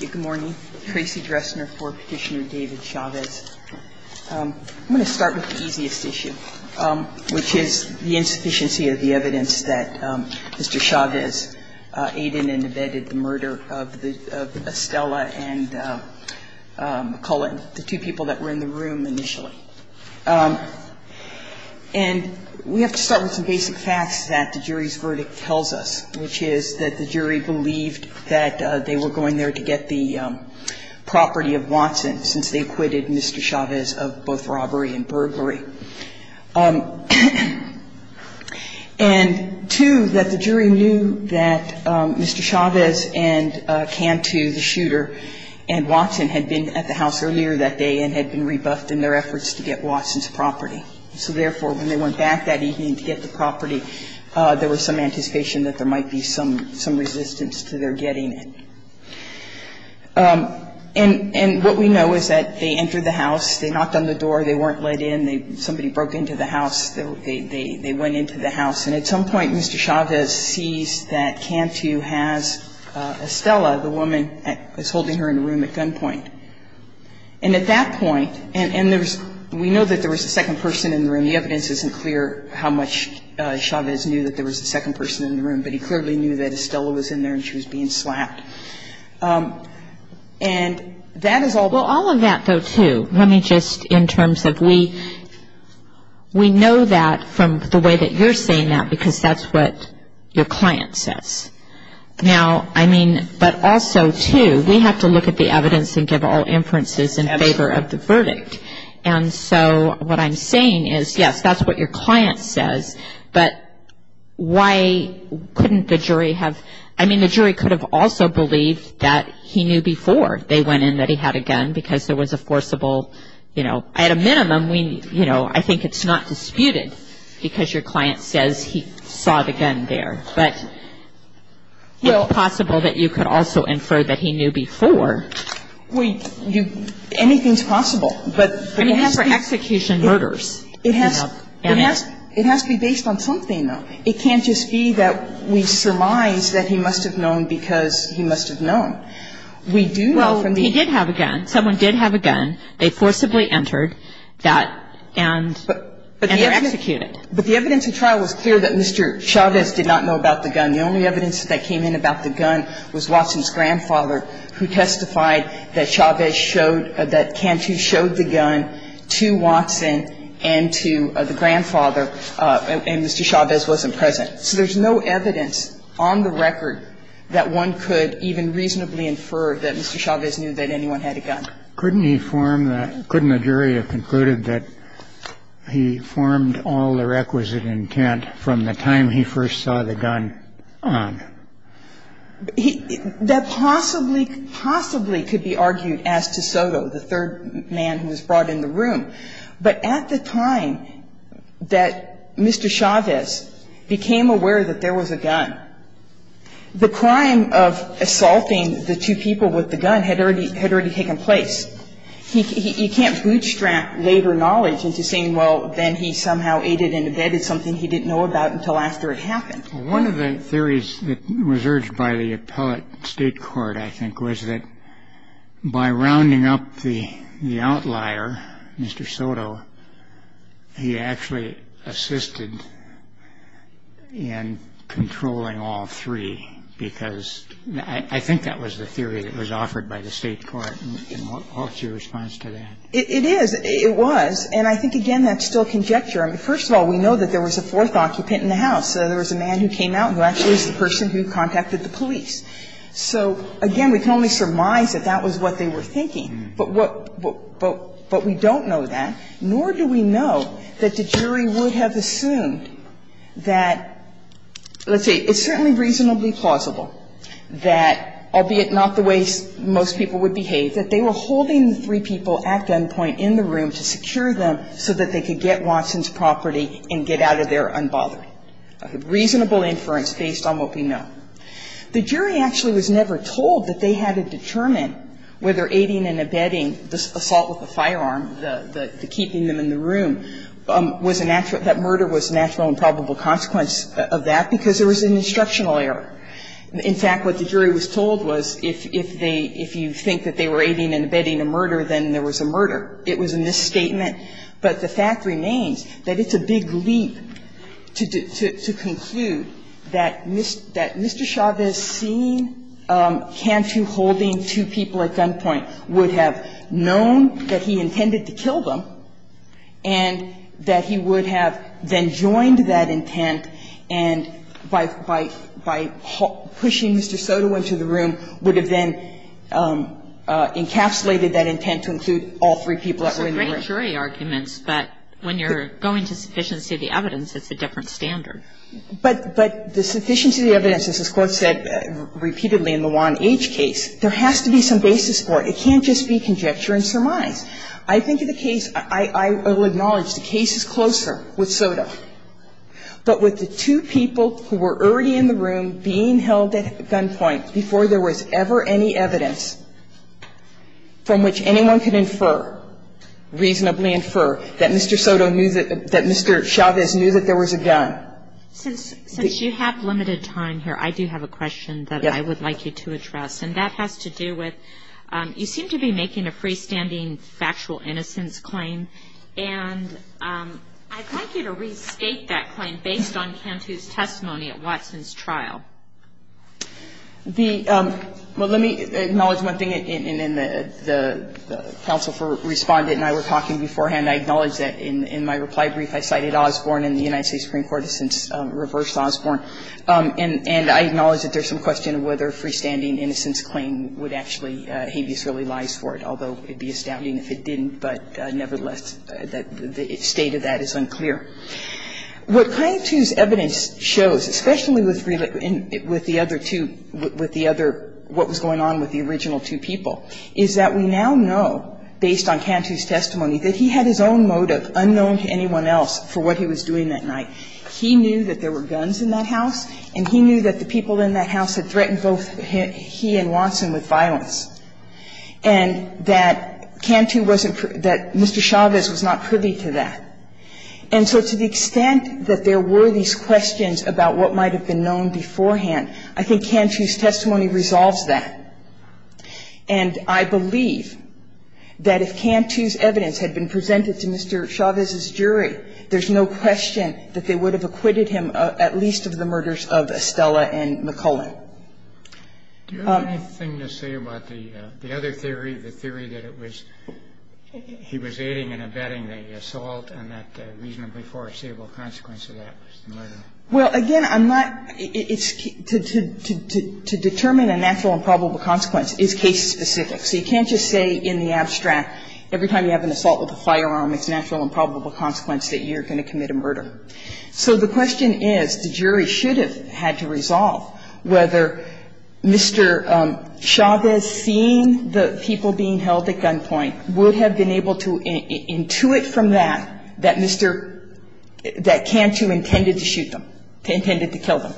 Good morning. Tracy Dressner for Petitioner David Chavez. I'm going to start with the easiest issue, which is the insufficiency of the evidence that Mr. Chavez aided and abetted the murder of Estella and Cullen, the two people that were in the room initially. And we have to start with some basic facts that the jury's verdict tells us, which is that the jury believed that they were going there to get the property of Watson since they acquitted Mr. Chavez of both robbery and burglary. And, two, that the jury knew that Mr. Chavez and Cantu, the shooter, and Watson had been at the house earlier that day and had been rebuffed in their efforts to get Watson's property. So, therefore, when they went back that evening to get the property, there was some anticipation that there might be some resistance to their getting it. And what we know is that they entered the house. They knocked on the door. They weren't let in. Somebody broke into the house. They went into the house. And at some point, Mr. Chavez sees that Cantu has Estella, the woman that was holding her in the room at gunpoint. And at that point, and there's – we know that there was a second person in the room. The evidence isn't clear how much Chavez knew that there was a second person in the room, but he clearly knew that Estella was in there and she was being slapped. And that is all – Well, all of that, though, too, let me just – in terms of we – we know that from the way that you're saying that because that's what your client says. Now, I mean, but also, too, we have to look at the evidence and give all inferences in favor of the verdict. And so what I'm saying is, yes, that's what your client says, but why couldn't the jury have – I mean, the jury could have also believed that he knew before they went in that he had a gun because there was a forcible, you know – Well – It's possible that you could also infer that he knew before. We – you – anything's possible, but – I mean, as for execution, murders. It has – it has to be based on something, though. It can't just be that we surmise that he must have known because he must have known. We do know from the – Well, he did have a gun. Someone did have a gun. They forcibly entered that and – and they're executed. But the evidence in trial was clear that Mr. Chavez did not know about the gun. The only evidence that came in about the gun was Watson's grandfather, who testified that Chavez showed – that Cantu showed the gun to Watson and to the grandfather, and Mr. Chavez wasn't present. So there's no evidence on the record that one could even reasonably infer that Mr. Chavez knew that anyone had a gun. Couldn't he form the – couldn't the jury have concluded that he formed all the requisite intent from the time he first saw the gun on? He – that possibly – possibly could be argued as to Soto, the third man who was brought in the room. But at the time that Mr. Chavez became aware that there was a gun, the crime of assaulting the two people with the gun had already – had already taken place, he – he can't bootstrap later knowledge into saying, well, then he somehow aided and abetted something he didn't know about until after it happened. Well, one of the theories that was urged by the appellate state court, I think, was that by rounding up the – the outlier, Mr. Soto, he actually assisted in controlling all three, because I think that was the theory that was offered by the state court. And what's your response to that? It is. It was. And I think, again, that's still conjecture. I mean, first of all, we know that there was a fourth occupant in the house. There was a man who came out who actually was the person who contacted the police. So, again, we can only surmise that that was what they were thinking. But what – but we don't know that, nor do we know that the jury would have assumed that – let's see, it's certainly reasonably plausible that, albeit not the way most people would behave, that they were holding the three people at gunpoint in the room to secure them so that they could get Watson's property and get out of there unbothered. Reasonable inference based on what we know. The jury actually was never told that they had to determine whether aiding and abetting assault with a firearm, the keeping them in the room, was a natural – that murder was a natural and probable consequence of that because there was an instructional error. In fact, what the jury was told was if they – if you think that they were aiding and abetting a murder, then there was a murder. It was a misstatement. But the fact remains that it's a big leap to conclude that Mr. Chavez seeing Cantu holding two people at gunpoint would have known that he intended to kill them and that he would have then joined that intent and, by – by pushing Mr. Soto into the room, would have then encapsulated that intent to include all three people that were in the room. Kagan. It's a great jury argument, but when you're going to sufficiency of the evidence, it's a different standard. But the sufficiency of the evidence, as this Court said repeatedly in the 1H case, there has to be some basis for it. It can't just be conjecture and surmise. I think the case – I will acknowledge the case is closer with Soto, but with the two people who were already in the room being held at gunpoint before there was ever any evidence from which anyone could infer, reasonably infer, that Mr. Soto knew that – that Mr. Chavez knew that there was a gun. Since you have limited time here, I do have a question that I would like you to address, and that has to do with you seem to be making a freestanding factual innocence claim, and I'd like you to restate that claim based on Cantu's testimony at Watson's trial. The – well, let me acknowledge one thing in the counsel for respondent and I were talking beforehand. I acknowledge that in my reply brief I cited Osborne and the United States Supreme Court has since reversed Osborne. And I acknowledge that there's some question of whether a freestanding innocence claim would actually – habeas really lies for it, although it would be astounding if it didn't. But nevertheless, the state of that is unclear. What Cantu's evidence shows, especially with the other two – with the other – what was going on with the original two people, is that we now know, based on Cantu's testimony, that he had his own motive unknown to anyone else for what he was doing that night. He knew that there were guns in that house, and he knew that the people in that house had threatened both he and Watson with violence, and that Cantu wasn't – that Mr. Chavez was not privy to that. And so to the extent that there were these questions about what might have been known beforehand, I think Cantu's testimony resolves that. And I believe that if Cantu's evidence had been presented to Mr. Chavez's jury, there's no question that they would have acquitted him at least of the murders of Estella and McCullen. Do you have anything to say about the other theory, the theory that it was – he was aiding and abetting the assault and that reasonably foreseeable consequence of that was the murder? Well, again, I'm not – it's – to determine a natural and probable consequence is case-specific. So you can't just say in the abstract every time you have an assault with a firearm it's a natural and probable consequence that you're going to commit a murder. So the question is, the jury should have had to resolve whether Mr. Chavez seeing the people being held at gunpoint would have been able to intuit from that, that Mr. – that Cantu intended to shoot them, intended to kill them.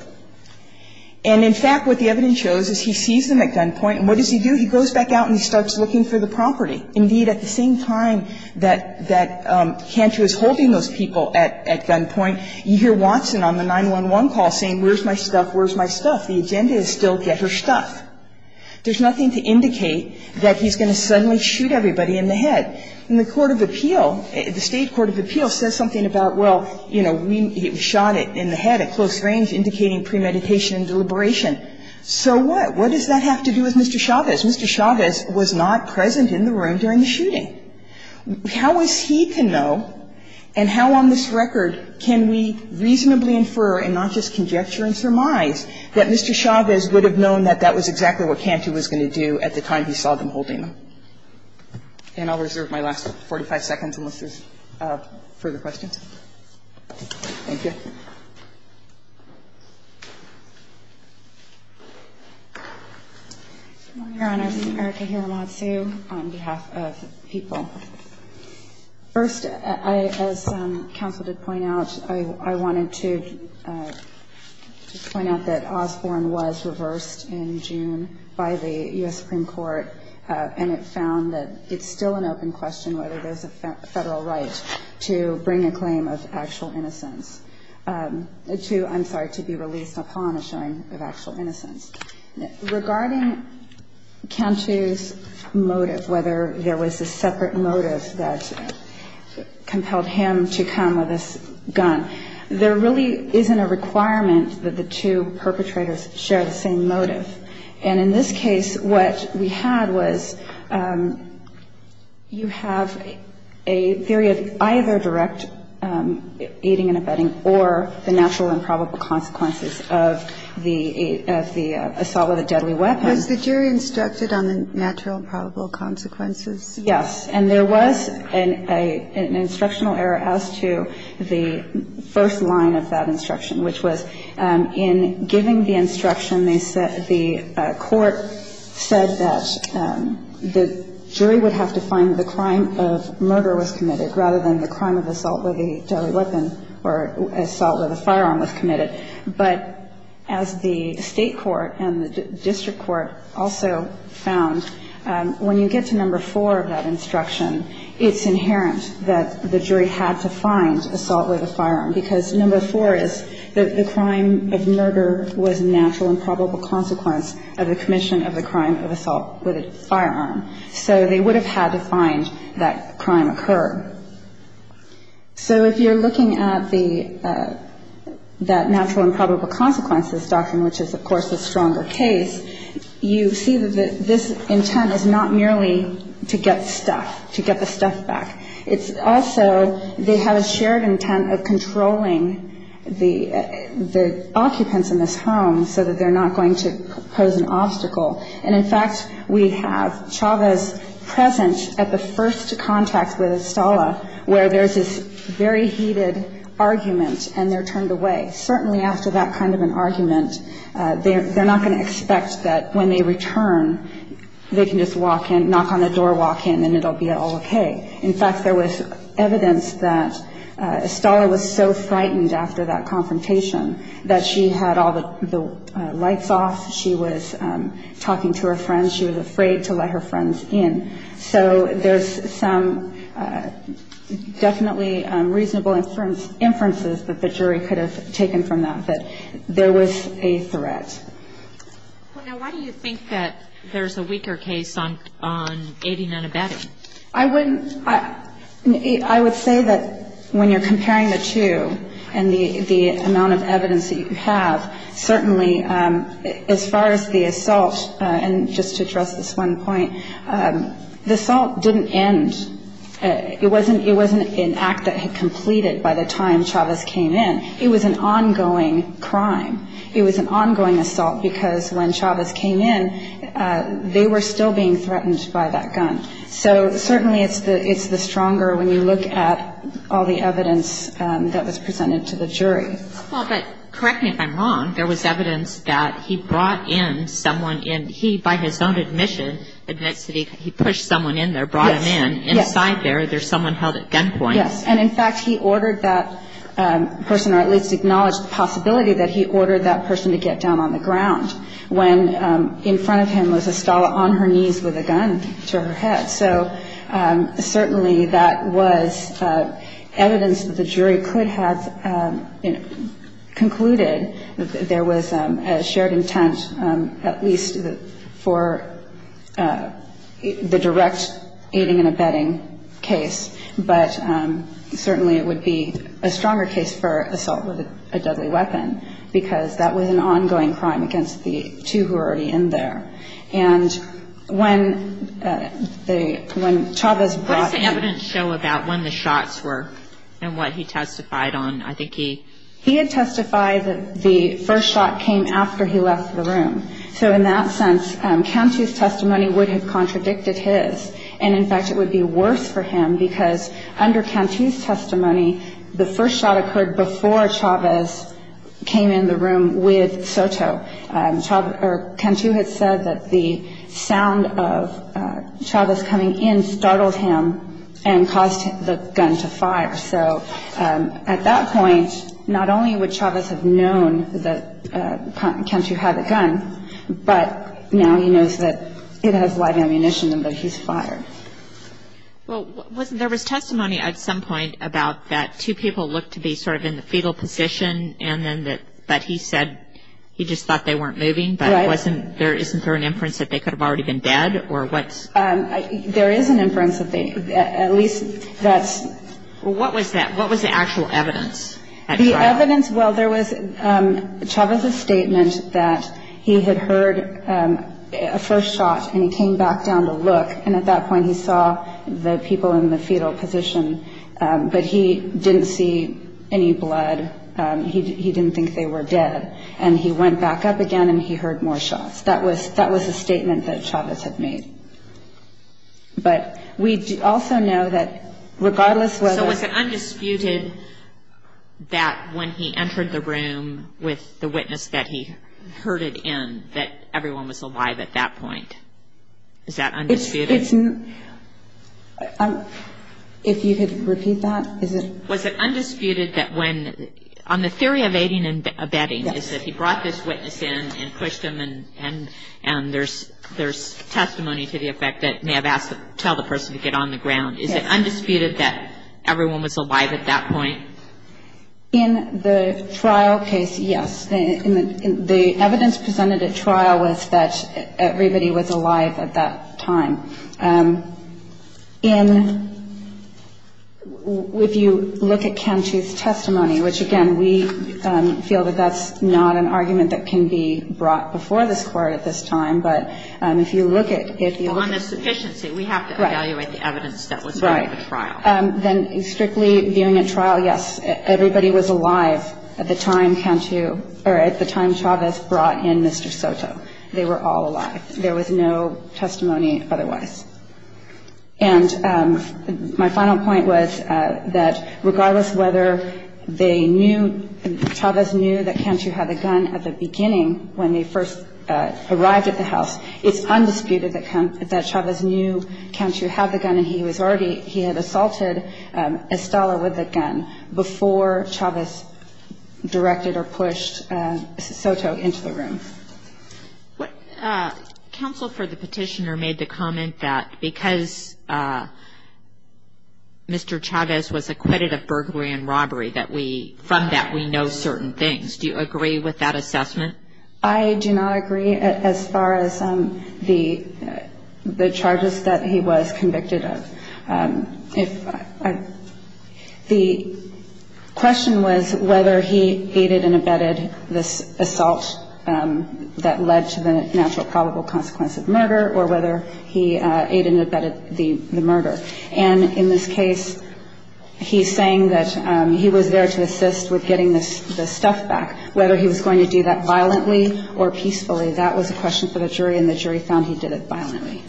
And in fact, what the evidence shows is he sees them at gunpoint, and what does he do? He goes back out and he starts looking for the property. Indeed, at the same time that – that Cantu is holding those people at gunpoint, you hear Watson on the 911 call saying, where's my stuff, where's my stuff? The agenda is still get her stuff. There's nothing to indicate that he's going to suddenly shoot everybody in the head. And the court of appeal, the State court of appeal says something about, well, you know, we shot it in the head at close range, indicating premeditation and deliberation. So what? What does that have to do with Mr. Chavez? Mr. Chavez was not present in the room during the shooting. How is he to know, and how on this record can we reasonably infer, and not just conjecture and surmise, that Mr. Chavez would have known that that was exactly what Cantu was going to do at the time he saw them holding them? And I'll reserve my last 45 seconds unless there's further questions. Thank you. Your Honor, Erica Hiramatsu on behalf of the people. First, as counsel did point out, I wanted to point out that Osborne was reversed in June by the U.S. Supreme Court, and it found that it's still an open question whether there's a federal right to bring a claim of actual innocence, to, I'm sorry, to be released upon a showing of actual innocence. Regarding Cantu's motive, whether there was a separate motive that compelled him to come with this gun, there really isn't a requirement that the two perpetrators share the same motive. And in this case, what we had was you have a theory of either direct aiding and abetting or the natural and probable consequences of the assault with a deadly weapon. Was the jury instructed on the natural and probable consequences? Yes. And there was an instructional error as to the first line of that instruction, which was in giving the instruction, they said the court said that the jury would have to find the crime of murder was committed rather than the crime of murder was committed rather than the crime of assault with a deadly weapon or assault with a firearm was committed. But as the State court and the district court also found, when you get to number four of that instruction, it's inherent that the jury had to find assault with a firearm because number four is that the crime of murder was natural and probable consequence of the commission of the crime of assault with a firearm. So they would have had to find that crime occurred. So if you're looking at the natural and probable consequences doctrine, which is, of course, the stronger case, you see that this intent is not merely to get stuff, to get the stuff back. It's also they have a shared intent of controlling the occupants in this home so that they're not going to pose an obstacle. And, in fact, we have Chavez present at the first contact with Estella where there's this very heated argument and they're turned away. Certainly after that kind of an argument, they're not going to expect that when they return, they can just walk in, knock on the door, walk in, and it'll be all okay. In fact, there was evidence that Estella was so frightened after that confrontation that she had all the lights off, she was talking to her friends, she was afraid to let her friends in. So there's some definitely reasonable inferences that the jury could have taken from that, that there was a threat. Now, why do you think that there's a weaker case on Aiding and Abetting? I wouldn't – I would say that when you're comparing the two and the amount of evidence that you have, certainly as far as the assault, and just to address this one point, the assault didn't end. It wasn't an act that had completed by the time Chavez came in. It was an ongoing crime. It was an ongoing assault because when Chavez came in, they were still being threatened by that gun. So certainly it's the stronger when you look at all the evidence that was presented to the jury. Well, but correct me if I'm wrong. There was evidence that he brought in someone in – he, by his own admission, admitted that he pushed someone in there, brought him in. Inside there, there's someone held at gunpoint. Yes. And in fact, he ordered that person, or at least acknowledged the possibility that he ordered that person to get down on the ground when in front of him was Estella on her knees with a gun to her head. So certainly that was evidence that the jury could have, you know, put to the jury and concluded there was a shared intent, at least for the direct aiding and abetting case. But certainly it would be a stronger case for assault with a deadly weapon because that was an ongoing crime against the two who were already in there. And when they – when Chavez brought in – he had testified that the first shot came after he left the room. So in that sense, Cantu's testimony would have contradicted his. And in fact, it would be worse for him because under Cantu's testimony, the first shot occurred before Chavez came in the room with Soto. Chavez – or Cantu had said that the sound of Chavez coming in startled him and caused the gun to fire. So at that point, not only would Chavez have known that Cantu had a gun, but now he knows that it has live ammunition and that he's fired. Well, wasn't – there was testimony at some point about that two people looked to be sort of in the fetal position and then that – but he said he just thought they weren't moving. Right. Wasn't there – isn't there an inference that they could have already been dead or what's – There is an inference that they – at least that's – Well, what was that? What was the actual evidence at trial? The evidence – well, there was Chavez's statement that he had heard a first shot and he came back down to look. And at that point, he saw the people in the fetal position, but he didn't see any that they were dead. And he went back up again and he heard more shots. That was a statement that Chavez had made. But we also know that regardless whether – So was it undisputed that when he entered the room with the witness that he heard it in, that everyone was alive at that point? Is that undisputed? If you could repeat that, is it – Was it undisputed that when – on the theory of aiding and abetting, is that he brought this witness in and pushed him and there's testimony to the effect that may have asked to tell the person to get on the ground. Is it undisputed that everyone was alive at that point? In the trial case, yes. The evidence presented at trial was that everybody was alive at that time. In – if you look at Cantu's testimony, which, again, we feel that that's not an argument that can be brought before this Court at this time, but if you look at – Well, on the sufficiency, we have to evaluate the evidence that was in the trial. Right. Then strictly viewing a trial, yes, everybody was alive at the time Cantu – or at the time Chavez brought in Mr. Soto. They were all alive. There was no testimony otherwise. And my final point was that regardless whether they knew – Chavez knew that Cantu had the gun at the beginning when they first arrived at the house, it's undisputed that Chavez knew Cantu had the gun and he was already – he had assaulted Estella with the gun before Chavez directed or pushed Soto into the room. Counsel for the petitioner made the comment that because Mr. Chavez was acquitted of burglary and robbery that we – from that we know certain things. Do you agree with that assessment? I do not agree as far as the charges that he was convicted of. The question was whether he aided and abetted this assault. That led to the natural probable consequence of murder or whether he aided and abetted the murder. And in this case, he's saying that he was there to assist with getting the stuff back. Whether he was going to do that violently or peacefully, that was a question for the jury and the jury found he did it violently.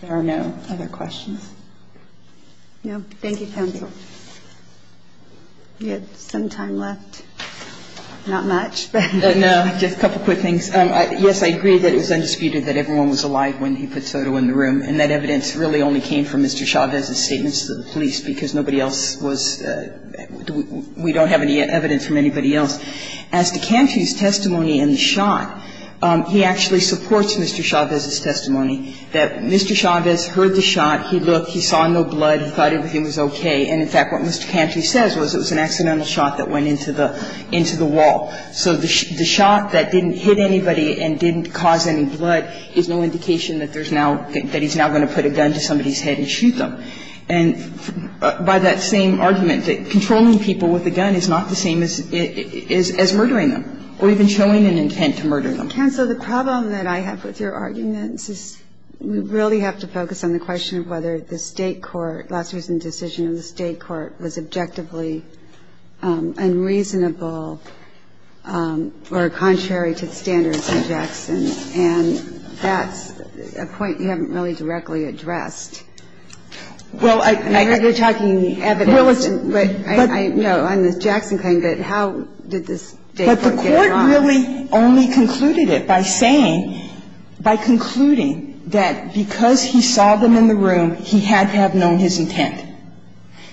There are no other questions. Thank you, counsel. We have some time left. Not much. No, just a couple quick things. Yes, I agree that it was undisputed that everyone was alive when he put Soto in the room and that evidence really only came from Mr. Chavez's statements to the police because nobody else was – we don't have any evidence from anybody else. As to Cantu's testimony and the shot, he actually supports Mr. Chavez's testimony that Mr. Chavez heard the shot, he looked, he saw no blood, he thought everything was okay. And, in fact, what Mr. Cantu says was it was an accidental shot that went into the wall. So the shot that didn't hit anybody and didn't cause any blood is no indication that there's now – that he's now going to put a gun to somebody's head and shoot them. And by that same argument, controlling people with a gun is not the same as murdering them or even showing an intent to murder them. But, counsel, the problem that I have with your arguments is we really have to focus on the question of whether the State court, last recent decision of the State court, was objectively unreasonable or contrary to the standards of Jackson. And that's a point you haven't really directly addressed. Well, I – You're talking evidence. No, on the Jackson claim, but how did the State court get it wrong? The State court is not the only one. And I really only concluded it by saying – by concluding that because he saw them in the room, he had to have known his intent.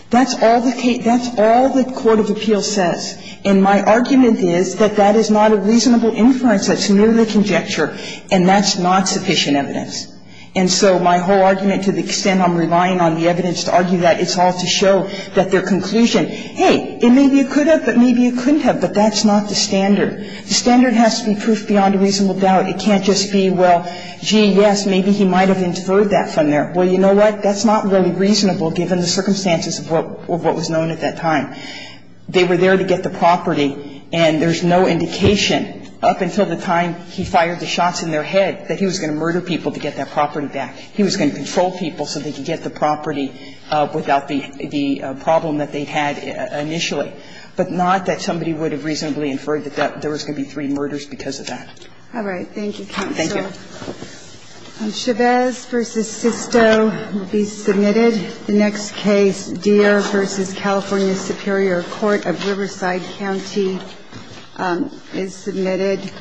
That's all the – that's all the court of appeals says. And my argument is that that is not a reasonable inference. That's merely conjecture. And that's not sufficient evidence. And so my whole argument, to the extent I'm relying on the evidence to argue that, it's all to show that their conclusion, hey, maybe you could have, but maybe you couldn't have, but that's not the standard. The standard has to be proof beyond a reasonable doubt. It can't just be, well, gee, yes, maybe he might have inferred that from there. Well, you know what? That's not really reasonable given the circumstances of what was known at that time. They were there to get the property, and there's no indication up until the time he fired the shots in their head that he was going to murder people to get that property back. He was going to control people so they could get the property without the problem that they had initially, but not that somebody would have reasonably inferred that there was going to be three murders because of that. All right. Thank you, counsel. Thank you. Chavez v. Sisto will be submitted. The next case, Deere v. California Superior Court of Riverside County, is submitted.